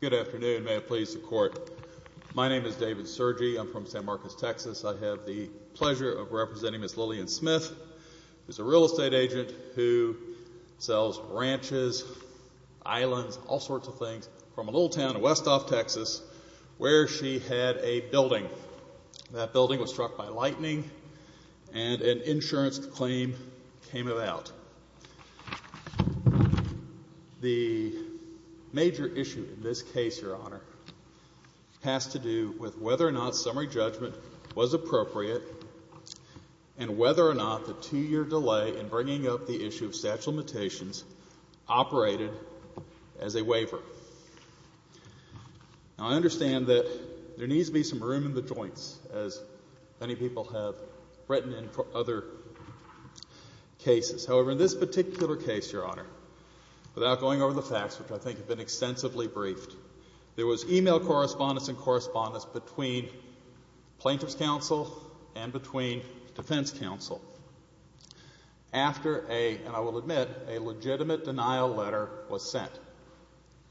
Good afternoon. May it please the Court. My name is David Sergi. I'm from San Marcos, Texas. I have the pleasure of representing Ms. Lillian Smith, who is a real estate agent who sells ranches, islands, all sorts of things, from a little town in West Off, Texas, where she had a building. That building was struck by lightning and an insurance claim came about. The major issue in this case, Your Honor, has to do with whether or not summary judgment was appropriate and whether or not the two-year delay in bringing up the issue of statute of limitations operated as a waiver. Now I understand that there needs to be some room in the joints, as many people have written in for other cases. However, in this particular case, Your Honor, without going over the facts, which I think have been extensively briefed, there was e-mail correspondence and correspondence between Plaintiff's Counsel and between Defense Counsel after a, and I will admit, a legitimate denial letter was sent.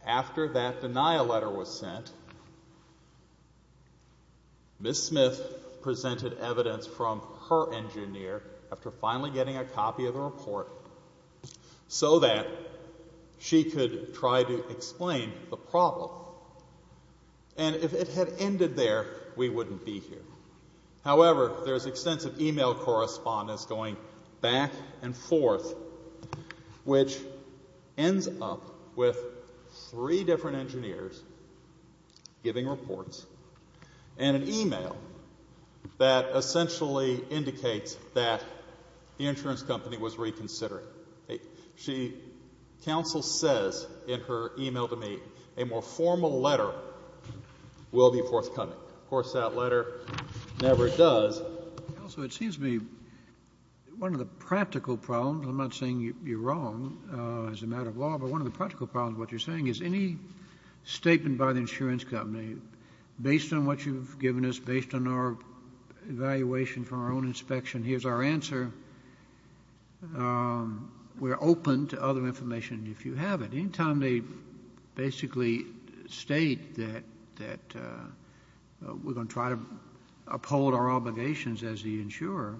After that denial letter was sent, Ms. Smith presented evidence from her engineer after finally getting a copy of the report so that she could try to explain the problem. And if it had ended there, we wouldn't be here. However, there's extensive e-mail correspondence going back and forth, which ends up with three different engineers giving reports and an e-mail that essentially indicates that the insurance company was reconsidering. Counsel says in her e-mail to me, a more formal letter will be forthcoming. Of course, that letter never does. Also, it seems to me one of the practical problems, I'm not saying you're wrong as a matter of law, but one of the practical problems of what you're saying is any statement by the insurance company, based on what you've given us, based on our evaluation from our own inspection, here's our answer, we're open to other information if you have it. Any time they basically state that we're going to try to uphold our obligations as the insurer,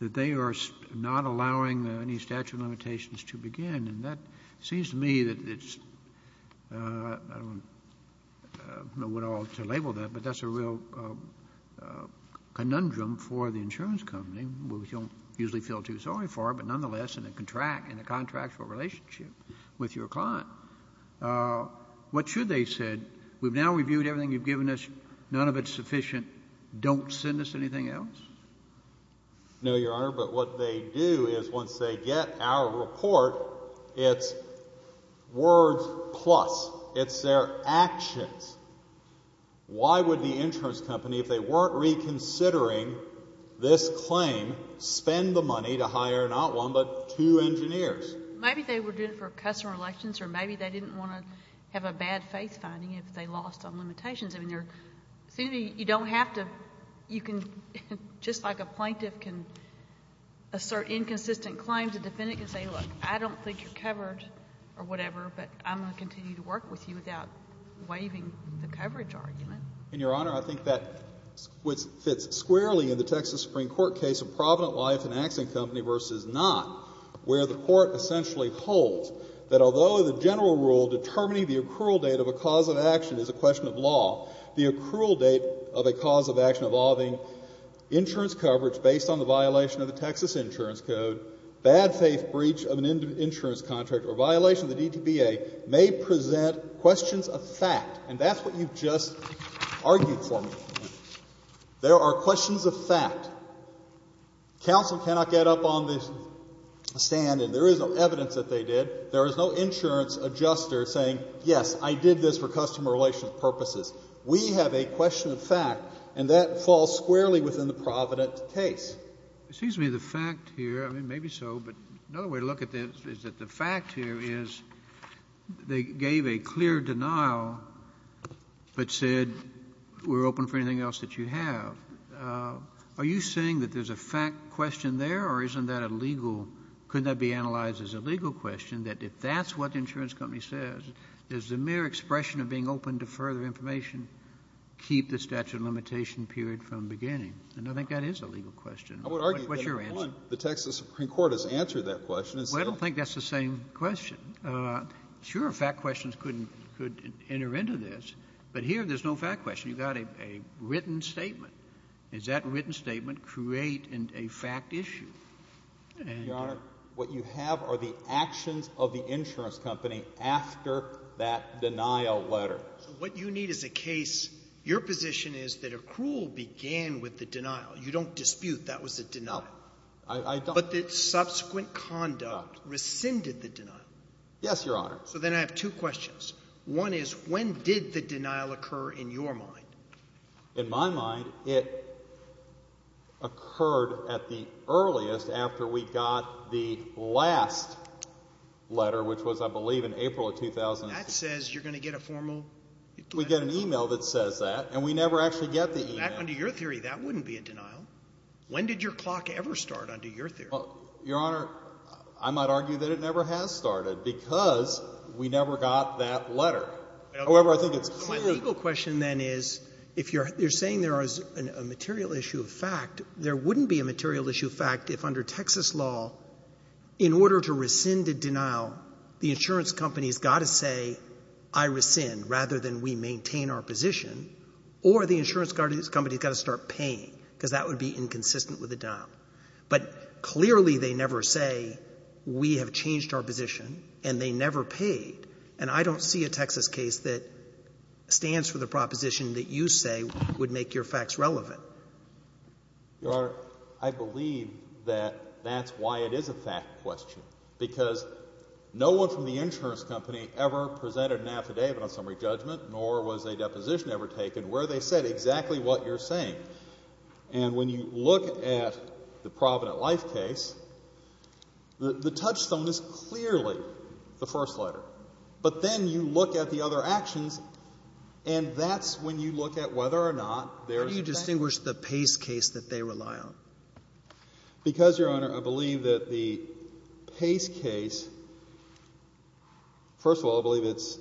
that they are not allowing any statute of limitations to begin, and that seems to me that it's, I don't know what all to label that, but that's a real conundrum for the insurance company, which you don't usually feel too sorry for, but nonetheless in a contractual relationship with your client. What should they say? We've now reviewed everything you've given us. None of it's sufficient. Don't send us anything else? No, Your Honor, but what they do is once they get our report, it's words plus. It's their actions. Why would the insurance company, if they weren't reconsidering this claim, spend the money to hire not one but two engineers? Maybe they were doing it for customer elections, or maybe they didn't want to have a bad faith finding if they lost on limitations. I mean, you don't have to, you can, just like a plaintiff can assert inconsistent claims, a defendant can say, look, I don't think you're covered or whatever, but I'm going to continue to work with you without waiving the coverage argument. And, Your Honor, I think that fits squarely in the Texas Supreme Court case of Provident Life and Axon Company v. Knott, where the court essentially holds that although the general rule determining the accrual date of a cause of action is a question of law, the accrual date of a cause of action involving insurance coverage based on the violation of the Texas Insurance Code, bad faith breach of an insurance contract or violation of the DTBA may present questions of fact. And that's what you've just argued for me. There are questions of fact. Counsel cannot get up on the stand and there is no evidence that they did. There is no insurance adjuster saying, yes, I did this for customer relations purposes. We have a question of fact, and that falls squarely within the Provident case. It seems to me the fact here, I mean, maybe so, but another way to look at this is that the fact here is they gave a clear denial but said we're open for anything else that you have. Are you saying that there's a fact question there or isn't that a legal, couldn't that be analyzed as a legal question, that if that's what the insurance company says, does the mere expression of being open to further information keep the statute of limitation period from beginning? And I think that is a legal question. What's your answer? The Texas Supreme Court has answered that question. Well, I don't think that's the same question. Sure, fact questions could enter into this, but here there's no fact question. You've got a written statement. Does that written statement create a fact issue? Your Honor, what you have are the actions of the insurance company after that denial letter. So what you need is a case, your position is that accrual began with the denial. You don't dispute that was a denial. No, I don't. But the subsequent conduct rescinded the denial. Yes, Your Honor. So then I have two questions. One is when did the denial occur in your mind? In my mind, it occurred at the earliest after we got the last letter, which was, I believe, in April of 2006. That says you're going to get a formal letter. We get an e-mail that says that, and we never actually get the e-mail. Under your theory, that wouldn't be a denial. When did your clock ever start under your theory? Your Honor, I might argue that it never has started because we never got that letter. However, I think it's clearly – My legal question, then, is if you're saying there is a material issue of fact, there wouldn't be a material issue of fact if under Texas law, in order to rescind a denial, the insurance company has got to say, I rescind, rather than we maintain our position, or the insurance company has got to start paying, because that would be inconsistent with the denial. But clearly they never say, we have changed our position, and they never paid. And I don't see a Texas case that stands for the proposition that you say would make your facts relevant. Your Honor, I believe that that's why it is a fact question. Because no one from the insurance company ever presented an affidavit on summary judgment, nor was a deposition ever taken, where they said exactly what you're saying. And when you look at the Provident Life case, the touchstone is clearly the first letter. But then you look at the other actions, and that's when you look at whether or not there is a fact. How do you distinguish the Pace case that they rely on? Because, Your Honor, I believe that the Pace case, first of all, I believe it's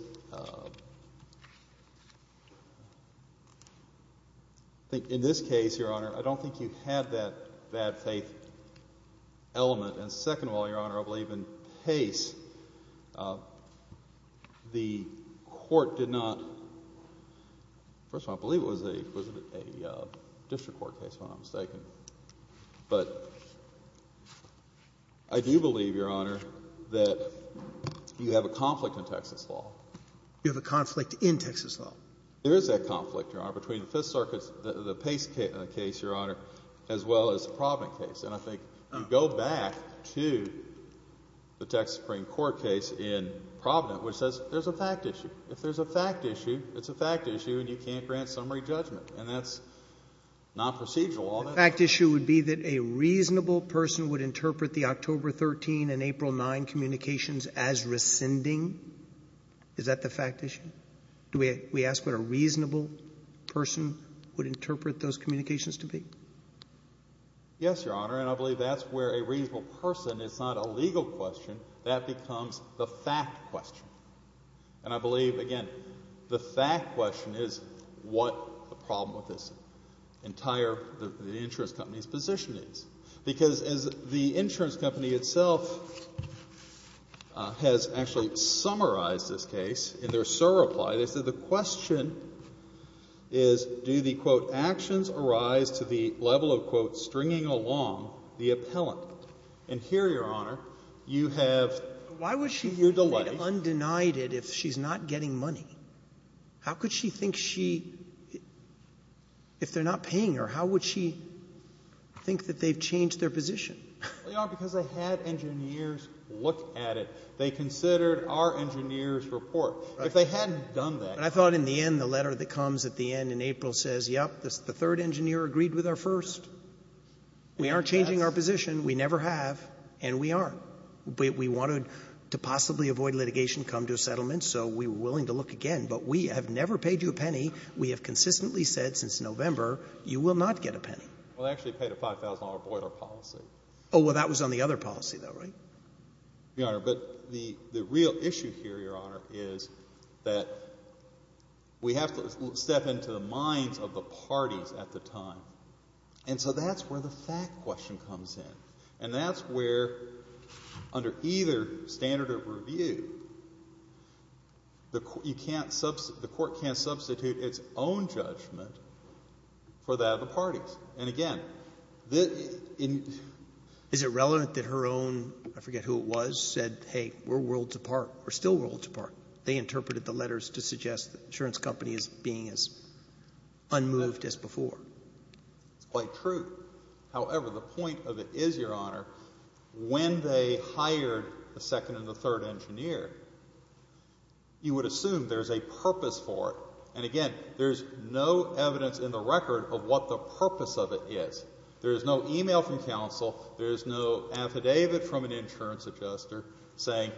in this case, Your Honor, I don't think you had that bad faith element. And second of all, Your Honor, I believe in Pace, the court did not, first of all, I don't believe it was a district court case when I'm mistaken. But I do believe, Your Honor, that you have a conflict in Texas law. You have a conflict in Texas law. There is a conflict, Your Honor, between the Fifth Circuit's, the Pace case, Your Honor, as well as the Provident case. And I think you go back to the Texas Supreme Court case in Provident, which says there's a fact issue. If there's a fact issue, it's a fact issue, and you can't grant summary judgment. And that's not procedural. The fact issue would be that a reasonable person would interpret the October 13 and April 9 communications as rescinding? Is that the fact issue? Do we ask what a reasonable person would interpret those communications to be? Yes, Your Honor, and I believe that's where a reasonable person, it's not a legal question, that becomes the fact question. And I believe, again, the fact question is what the problem with this entire insurance company's position is. Because as the insurance company itself has actually summarized this case in their surreply, they said the question is, do the, quote, actions arise to the level of, quote, stringing along the appellant? And here, Your Honor, you have your delay. If she had undenied it, if she's not getting money, how could she think she, if they're not paying her, how would she think that they've changed their position? Well, Your Honor, because they had engineers look at it. They considered our engineers' report. Right. If they hadn't done that. And I thought in the end, the letter that comes at the end in April says, yep, the third engineer agreed with our first. We aren't changing our position, we never have, and we aren't. We wanted to possibly avoid litigation, come to a settlement, so we were willing to look again. But we have never paid you a penny. We have consistently said since November you will not get a penny. Well, they actually paid a $5,000 boiler policy. Oh, well, that was on the other policy, though, right? Your Honor, but the real issue here, Your Honor, is that we have to step into the minds of the parties at the time. And so that's where the fact question comes in. And that's where, under either standard of review, you can't substitute, the court can't substitute its own judgment for that of the parties. And, again, the — Is it relevant that her own, I forget who it was, said, hey, we're worlds apart, we're still worlds apart? They interpreted the letters to suggest the insurance company as being as unmoved as before. It's quite true. However, the point of it is, Your Honor, when they hired the second and the third engineer, you would assume there's a purpose for it. And, again, there's no evidence in the record of what the purpose of it is. There is no e-mail from counsel. There is no affidavit from an insurance adjuster saying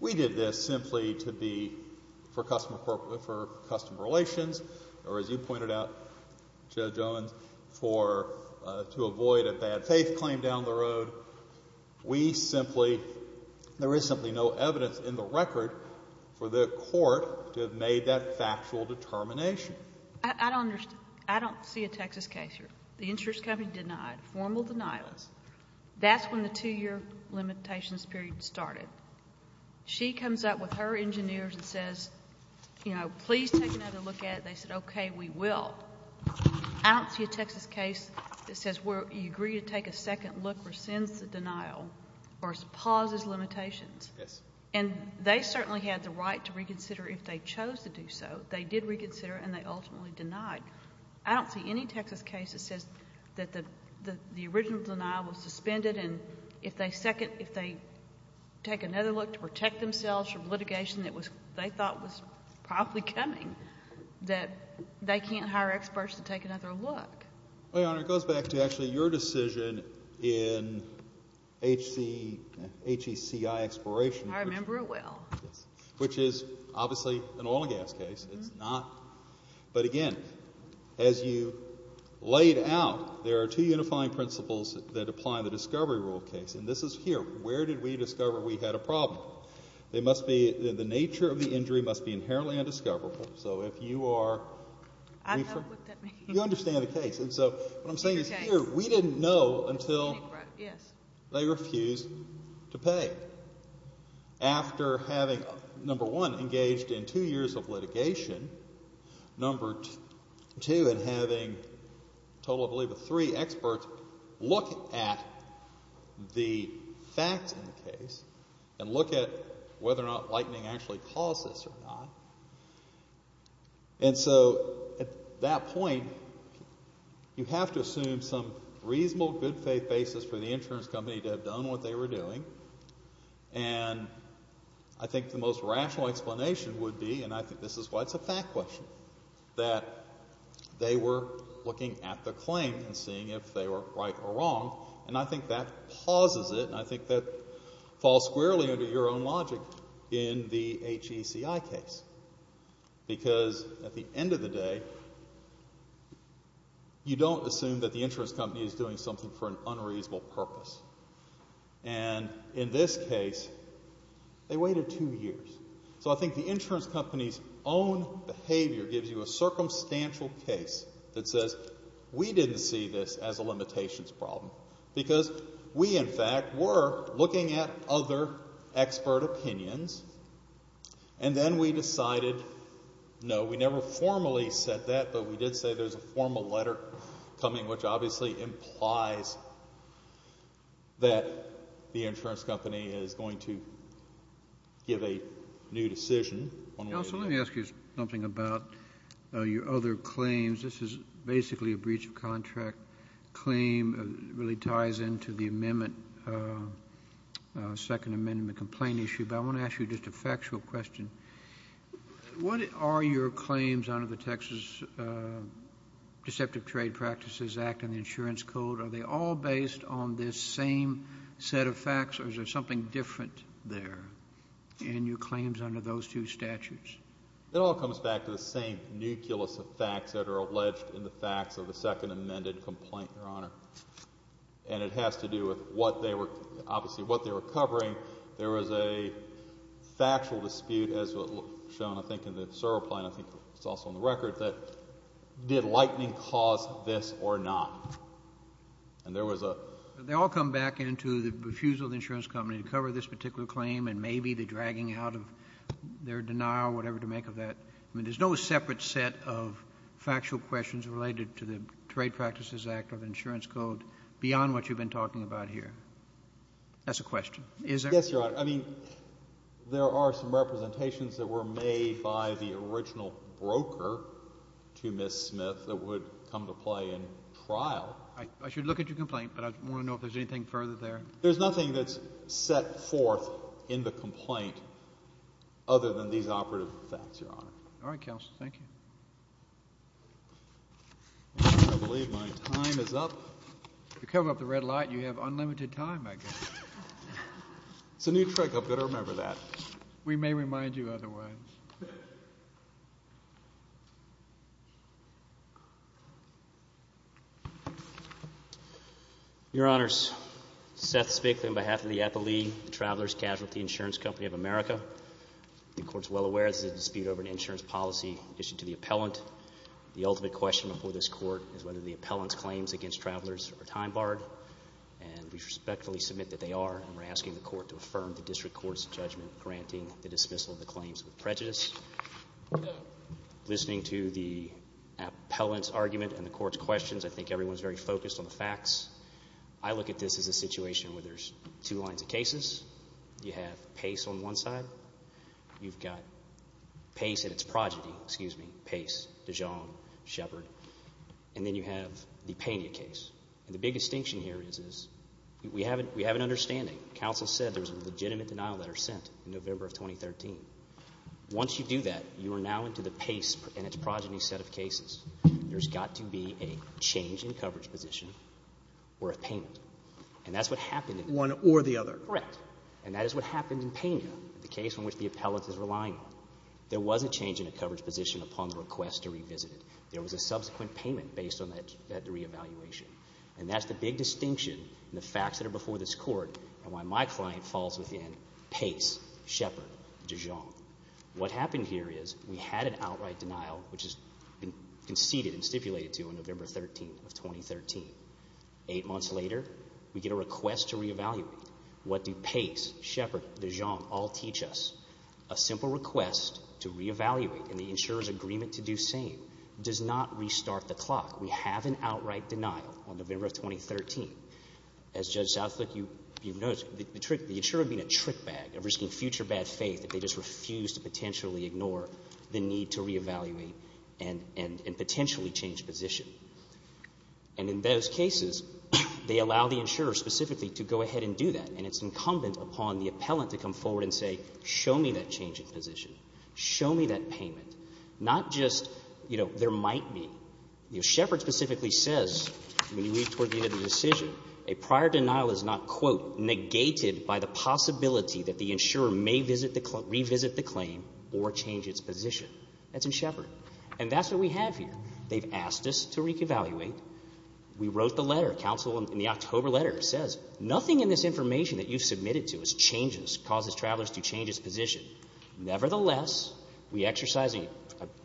we did this simply to be for customer relations or, as you pointed out, Judge Owens, to avoid a bad faith claim down the road. We simply — there is simply no evidence in the record for the court to have made that factual determination. I don't understand. I don't see a Texas case here. The insurance company denied formal denials. That's when the two-year limitations period started. She comes up with her engineers and says, you know, please take another look at it. They said, okay, we will. I don't see a Texas case that says you agree to take a second look, rescinds the denial, or pauses limitations. Yes. And they certainly had the right to reconsider if they chose to do so. They did reconsider, and they ultimately denied. I don't see any Texas case that says that the original denial was suspended, and if they take another look to protect themselves from litigation that they thought was probably coming, that they can't hire experts to take another look. Well, Your Honor, it goes back to actually your decision in HECI expiration. I remember it well. Which is obviously an oil and gas case. It's not. But, again, as you laid out, there are two unifying principles that apply in the discovery rule case, and this is here. Where did we discover we had a problem? The nature of the injury must be inherently undiscoverable, so if you are I know what that means. You understand the case. And so what I'm saying is here, we didn't know until they refused to pay. After having, number one, engaged in two years of litigation, number two, and having a total of, I believe, three experts look at the facts in the case and look at whether or not lightening actually caused this or not. And so at that point, you have to assume some reasonable good faith basis for the insurance company to have done what they were doing, and I think the most rational explanation would be, and I think this is why it's a fact question, that they were looking at the claim and seeing if they were right or wrong. And I think that pauses it, and I think that falls squarely under your own logic in the HECI case. Because at the end of the day, you don't assume that the insurance company is doing something for an unreasonable purpose. And in this case, they waited two years. So I think the insurance company's own behavior gives you a circumstantial case that says, we didn't see this as a limitations problem because we, in fact, were looking at other expert opinions, and then we decided, no, we never formally said that, but we did say there's a formal letter coming, which obviously implies that the insurance company is going to give a new decision. Counsel, let me ask you something about your other claims. This is basically a breach of contract claim. It really ties into the amendment, second amendment complaint issue. But I want to ask you just a factual question. What are your claims under the Texas Deceptive Trade Practices Act and the insurance code? Are they all based on this same set of facts, or is there something different there in your claims under those two statutes? It all comes back to the same nucleus of facts that are alleged in the facts of the second amended complaint, Your Honor. And it has to do with what they were, obviously what they were covering. There was a factual dispute, as was shown, I think, in the Cerro plan, I think it's also on the record, that did Lightning cause this or not? And there was a — They all come back into the refusal of the insurance company to cover this particular claim and maybe the dragging out of their denial or whatever to make of that. I mean, there's no separate set of factual questions related to the Trade Practices Act or the insurance code beyond what you've been talking about here. That's a question. Is there? Yes, Your Honor. I mean, there are some representations that were made by the original broker to Ms. Smith that would come to play in trial. I should look at your complaint, but I want to know if there's anything further there. There's nothing that's set forth in the complaint other than these operative facts, Your Honor. All right, counsel. Thank you. I believe my time is up. If you cover up the red light, you have unlimited time, I guess. It's a new trick. I've got to remember that. We may remind you otherwise. Your Honors. Seth Spiegel on behalf of the Appellee Traveler's Casualty Insurance Company of America. The Court is well aware this is a dispute over an insurance policy issued to the appellant. The ultimate question before this Court is whether the appellant's claims against travelers are time barred. And we respectfully submit that they are, and we're asking the Court to affirm the district court's judgment granting the dismissal of the claims with prejudice. Listening to the appellant's argument and the Court's questions, I think everyone is very focused on the facts. I look at this as a situation where there's two lines of cases. You have Pace on one side. You've got Pace and its progeny, excuse me, Pace, Dijon, Shepard. And then you have the Pena case. And the big distinction here is we have an understanding. Counsel said there's a legitimate denial letter sent in November of 2013. Once you do that, you are now into the Pace and its progeny set of cases. There's got to be a change in coverage position or a payment. And that's what happened in Pena. One or the other. Correct. And that is what happened in Pena, the case in which the appellant is relying on. There was a change in a coverage position upon the request to revisit it. There was a subsequent payment based on that reevaluation. And that's the big distinction in the facts that are before this Court and why my client falls within Pace, Shepard, Dijon. What happened here is we had an outright denial, which has been conceded and stipulated to on November 13 of 2013. Eight months later, we get a request to reevaluate. What do Pace, Shepard, Dijon all teach us? A simple request to reevaluate and the insurer's agreement to do same. It does not restart the clock. We have an outright denial on November of 2013. As Judge Southlick, you've noticed, the insurer being a trick bag, risking future bad faith that they just refuse to potentially ignore the need to reevaluate and potentially change position. And in those cases, they allow the insurer specifically to go ahead and do that. And it's incumbent upon the appellant to come forward and say, show me that change in position. Show me that payment. Not just, you know, there might be. You know, Shepard specifically says, when you read toward the end of the decision, a prior denial is not, quote, negated by the possibility that the insurer may revisit the claim or change its position. That's in Shepard. And that's what we have here. They've asked us to reevaluate. We wrote the letter. Counsel in the October letter says, nothing in this information that you've submitted to us changes, causes travelers to change its position. Nevertheless, we exercise a,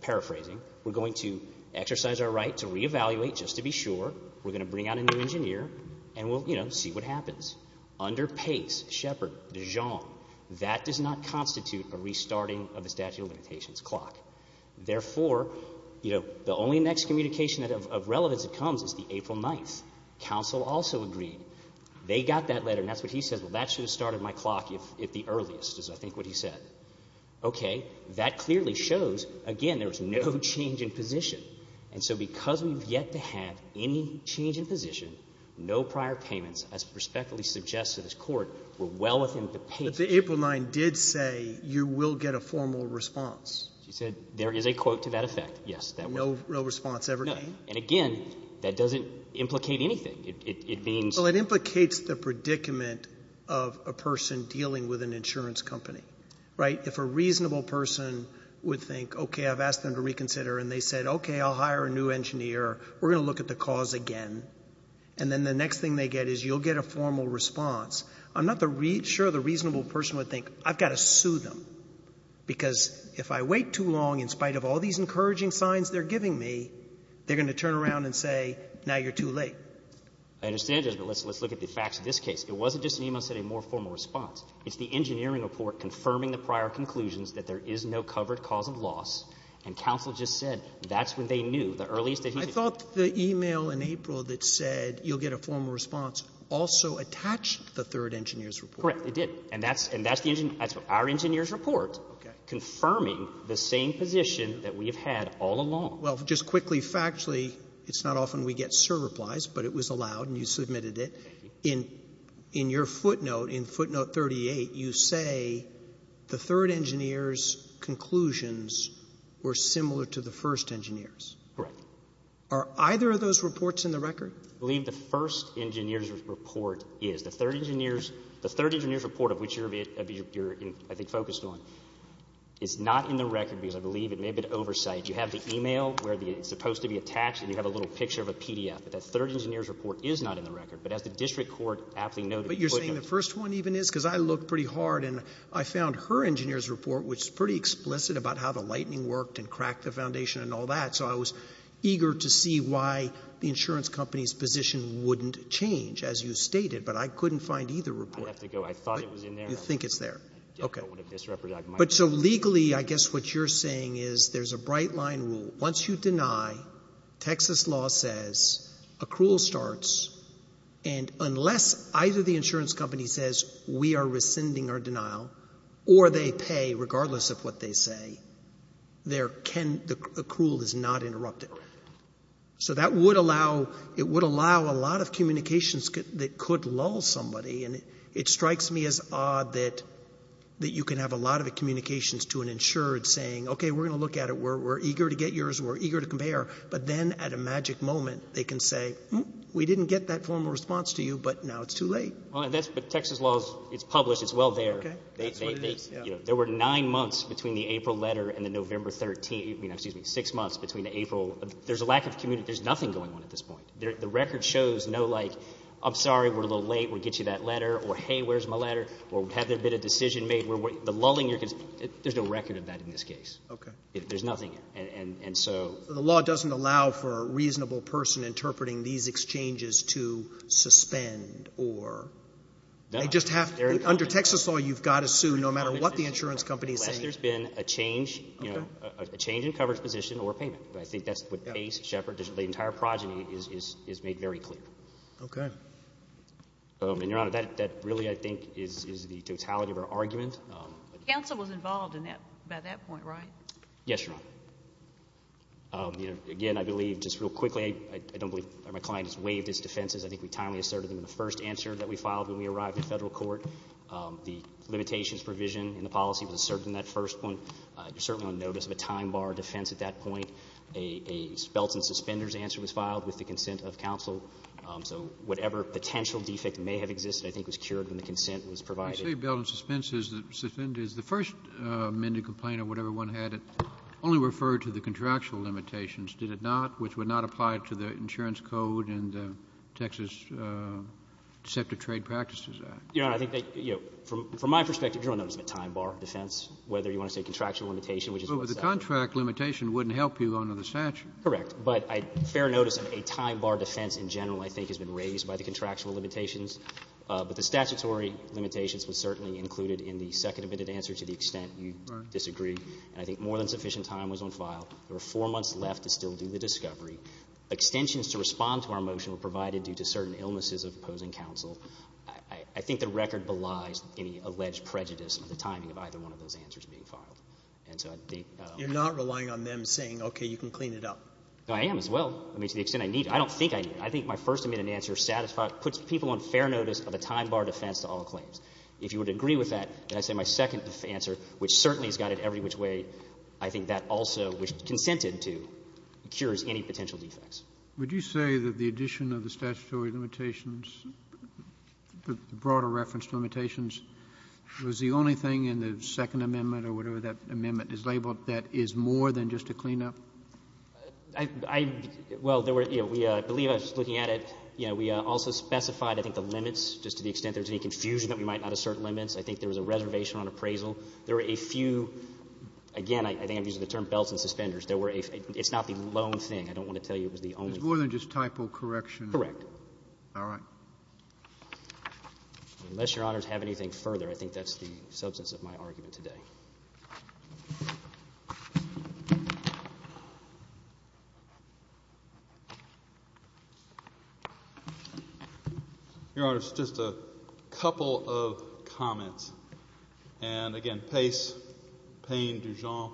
paraphrasing, we're going to exercise our right to reevaluate just to be sure. We're going to bring out a new engineer, and we'll, you know, see what happens. Under Pace, Shepard, Dijon, that does not constitute a restarting of the statute of limitations clock. Therefore, you know, the only next communication of relevance that comes is the April 9th. Counsel also agreed. They got that letter, and that's what he said. Well, that should have started my clock if the earliest, is I think what he said. Okay. That clearly shows, again, there's no change in position. And so because we've yet to have any change in position, no prior payments, as prospectively suggested as court, were well within the page. But the April 9th did say you will get a formal response. She said there is a quote to that effect, yes. No response ever came? No. And again, that doesn't implicate anything. It means — Well, it implicates the predicament of a person dealing with an insurance company. Right? If a reasonable person would think, okay, I've asked them to reconsider, and they said, okay, I'll hire a new engineer, we're going to look at the cause again, and then the next thing they get is you'll get a formal response, I'm not sure the reasonable person would think, I've got to sue them, because if I wait too long in spite of all these encouraging signs they're giving me, they're going to turn around and say, now you're too late. I understand that, but let's look at the facts of this case. It wasn't just Nemo that said a more formal response. It's the engineering report confirming the prior conclusions that there is no covered cause of loss, and counsel just said that's when they knew, the earliest that he could tell. I thought the e-mail in April that said you'll get a formal response also attached the third engineer's report. Correct. It did. And that's the — that's our engineer's report confirming the same position that we have had all along. Well, just quickly, factually, it's not often we get cert replies, but it was allowed and you submitted it. Thank you. In your footnote, in footnote 38, you say the third engineer's conclusions were similar to the first engineer's. Correct. Are either of those reports in the record? I believe the first engineer's report is. The third engineer's report, of which you're, I think, focused on, is not in the record because I believe it may have been oversight. You have the e-mail where it's supposed to be attached, and you have a little picture of a PDF. But that third engineer's report is not in the record. But as the district court aptly noted — But you're saying the first one even is? Because I looked pretty hard, and I found her engineer's report, which is pretty explicit about how the lightning worked and cracked the foundation and all that, so I was eager to see why the insurance company's position wouldn't change, as you stated. But I couldn't find either report. I'd have to go. I thought it was in there. You think it's there. Okay. I definitely would have misrepresented it. But so legally, I guess what you're saying is there's a bright-line rule. Once you deny, Texas law says accrual starts. And unless either the insurance company says, we are rescinding our denial, or they pay regardless of what they say, the accrual is not interrupted. Correct. So that would allow — it would allow a lot of communications that could lull somebody. And it strikes me as odd that you can have a lot of communications to an insured saying, okay, we're going to look at it. We're eager to get yours. We're eager to compare. But then at a magic moment, they can say, we didn't get that formal response to you, but now it's too late. But Texas law, it's published. It's well there. That's what it is. There were nine months between the April letter and the November 13th — excuse me, six months between the April — there's a lack of communication. There's nothing going on at this point. The record shows no, like, I'm sorry, we're a little late. We'll get you that letter. Or, hey, where's my letter? Or, have there been a decision made? The lulling you're — there's no record of that in this case. Okay. There's nothing. And so — So the law doesn't allow for a reasonable person interpreting these exchanges to suspend or — No. They just have — under Texas law, you've got to sue no matter what the insurance company is saying. Unless there's been a change — Okay. — a change in coverage position or payment. But I think that's what Pace, Shepard, the entire progeny is made very clear. Okay. And, Your Honor, that really, I think, is the totality of our argument. But counsel was involved in that — by that point, right? Yes, Your Honor. Again, I believe, just real quickly, I don't believe my client has waived his defenses. I think we timely asserted them in the first answer that we filed when we arrived in federal court. The limitations provision in the policy was asserted in that first one. You're certainly on notice of a time bar defense at that point. A spelt and suspenders answer was filed with the consent of counsel. So whatever potential defect may have existed, I think, was cured when the consent was provided. You say spelt and suspenders. The first amended complaint or whatever one had, it only referred to the contractual limitations, did it not, which would not apply to the insurance code and the Texas Deceptive Trade Practices Act. Your Honor, I think that, you know, from my perspective, you're on notice of a time bar defense, whether you want to say contractual limitation, which is what's said. But the contract limitation wouldn't help you under the statute. But fair notice of a time bar defense in general, I think, has been raised by the contractual limitations. But the statutory limitations was certainly included in the second amended answer to the extent you disagree. And I think more than sufficient time was on file. There were four months left to still do the discovery. Extensions to respond to our motion were provided due to certain illnesses of opposing counsel. I think the record belies any alleged prejudice of the timing of either one of those answers being filed. And so I think the — You're not relying on them saying, okay, you can clean it up. No, I am as well. I mean, to the extent I need it. I don't think I need it. I think my first amended answer puts people on fair notice of a time bar defense to all claims. If you would agree with that, then I say my second answer, which certainly is guided every which way, I think that also, which it consented to, cures any potential defects. Would you say that the addition of the statutory limitations, the broader reference to limitations, was the only thing in the second amendment or whatever that amendment is labeled that is more than just a cleanup? I — well, there were — you know, we — I believe I was looking at it. You know, we also specified, I think, the limits, just to the extent there's any confusion that we might not assert limits. I think there was a reservation on appraisal. There were a few — again, I think I'm using the term belts and suspenders. There were a — it's not the lone thing. I don't want to tell you it was the only thing. It was more than just typo correction. Correct. All right. Unless Your Honors have anything further, I think that's the substance of my argument today. Your Honors, just a couple of comments. And, again, Pace, Payne, Dujon,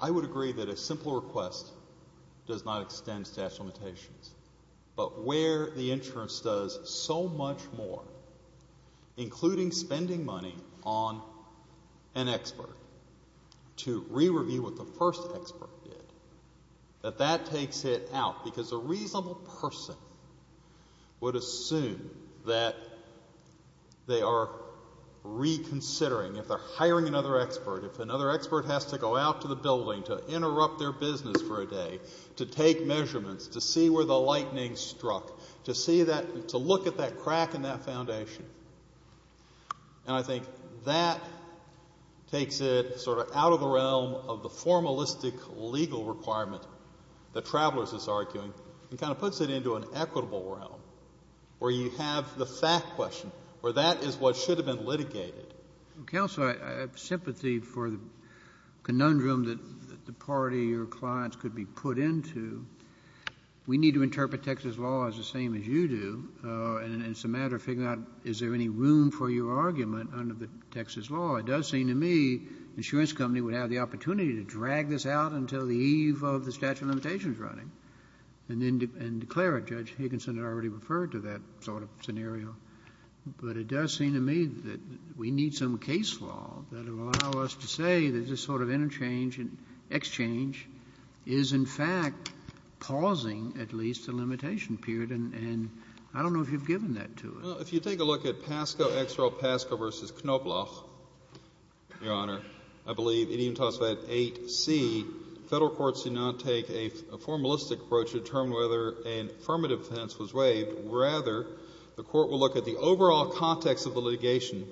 I would agree that a simple request does not extend statutory limitations. But where the insurance does so much more, including spending money on an expert to re-review what the first expert did, that that takes it out. Because a reasonable person would assume that they are reconsidering, if they're hiring another expert, if another expert has to go out to the building to interrupt their business for a day to take measurements, to see where the lightning struck, to see that — to look at that crack in that foundation. And I think that takes it sort of out of the realm of the formalistic legal requirement that Travelers is arguing and kind of puts it into an equitable realm where you have the fact question, where that is what should have been litigated. Counsel, I have sympathy for the conundrum that the party or clients could be put into. We need to interpret Texas law as the same as you do, and it's a matter of figuring out is there any room for your argument under the Texas law. It does seem to me the insurance company would have the opportunity to drag this out until the eve of the statute of limitations running, and then declare it. Judge Higginson had already referred to that sort of scenario. But it does seem to me that we need some case law that will allow us to say that this sort of interchange and exchange is, in fact, pausing at least a limitation period. And I don't know if you've given that to us. Well, if you take a look at PASCO, XRO, PASCO v. Knoploch, Your Honor, I believe it even talks about 8C. Federal courts do not take a formalistic approach to determine whether an affirmative defense was waived. Rather, the Court will look at the overall context of the litigation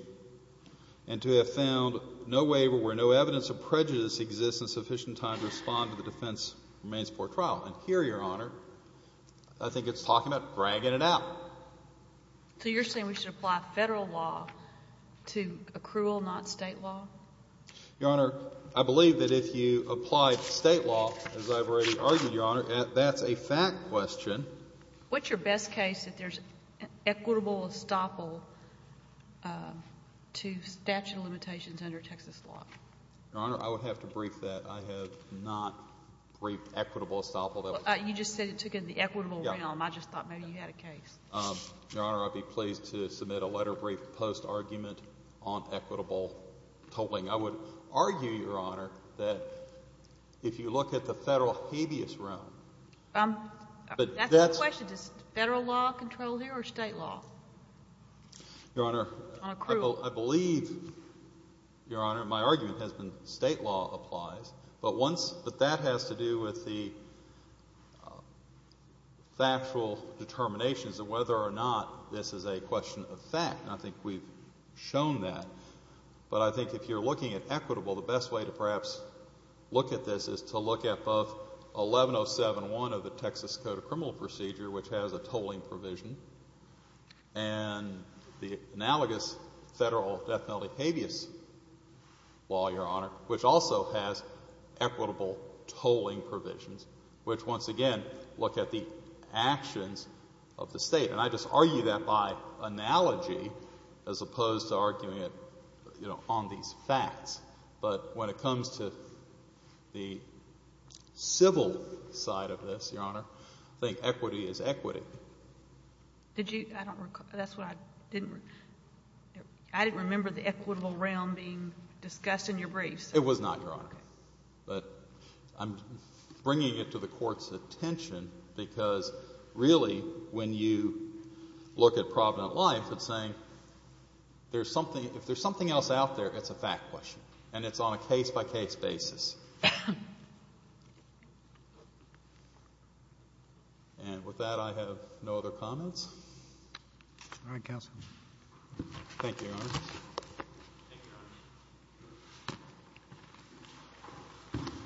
and to have found no waiver where no evidence of prejudice exists in sufficient time to respond to the defense remains before trial. And here, Your Honor, I think it's talking about dragging it out. So you're saying we should apply Federal law to accrual, not State law? Your Honor, I believe that if you apply State law, as I've already argued, Your Honor, that's a fact question. What's your best case if there's equitable estoppel to statute of limitations under Texas law? Your Honor, I would have to brief that. I have not briefed equitable estoppel. You just said it took in the equitable realm. I just thought maybe you had a case. Your Honor, I'd be pleased to submit a letter brief post-argument on equitable tolling. I would argue, Your Honor, that if you look at the Federal habeas realm. That's the question. Does Federal law control here or State law? Your Honor, I believe, Your Honor, my argument has been State law applies. But that has to do with the factual determinations of whether or not this is a question of fact. And I think we've shown that. But I think if you're looking at equitable, the best way to perhaps look at this is to look at both 11071 of the Texas Code of Criminal Procedure, which has a tolling provision, and the analogous Federal death penalty habeas law, Your Honor, which also has equitable tolling provisions, which, once again, look at the actions of the State. And I just argue that by analogy as opposed to arguing it, you know, on these facts. But when it comes to the civil side of this, Your Honor, I think equity is equity. Did you? I don't recall. That's what I didn't. I didn't remember the equitable realm being discussed in your briefs. It was not, Your Honor. Okay. But I'm bringing it to the Court's attention because, really, when you look at Provident Life, it's saying there's something — if there's something else out there, it's a fact question, and it's on a case-by-case basis. And with that, I have no other comments. All right, counsel. Thank you, Your Honor. Thank you.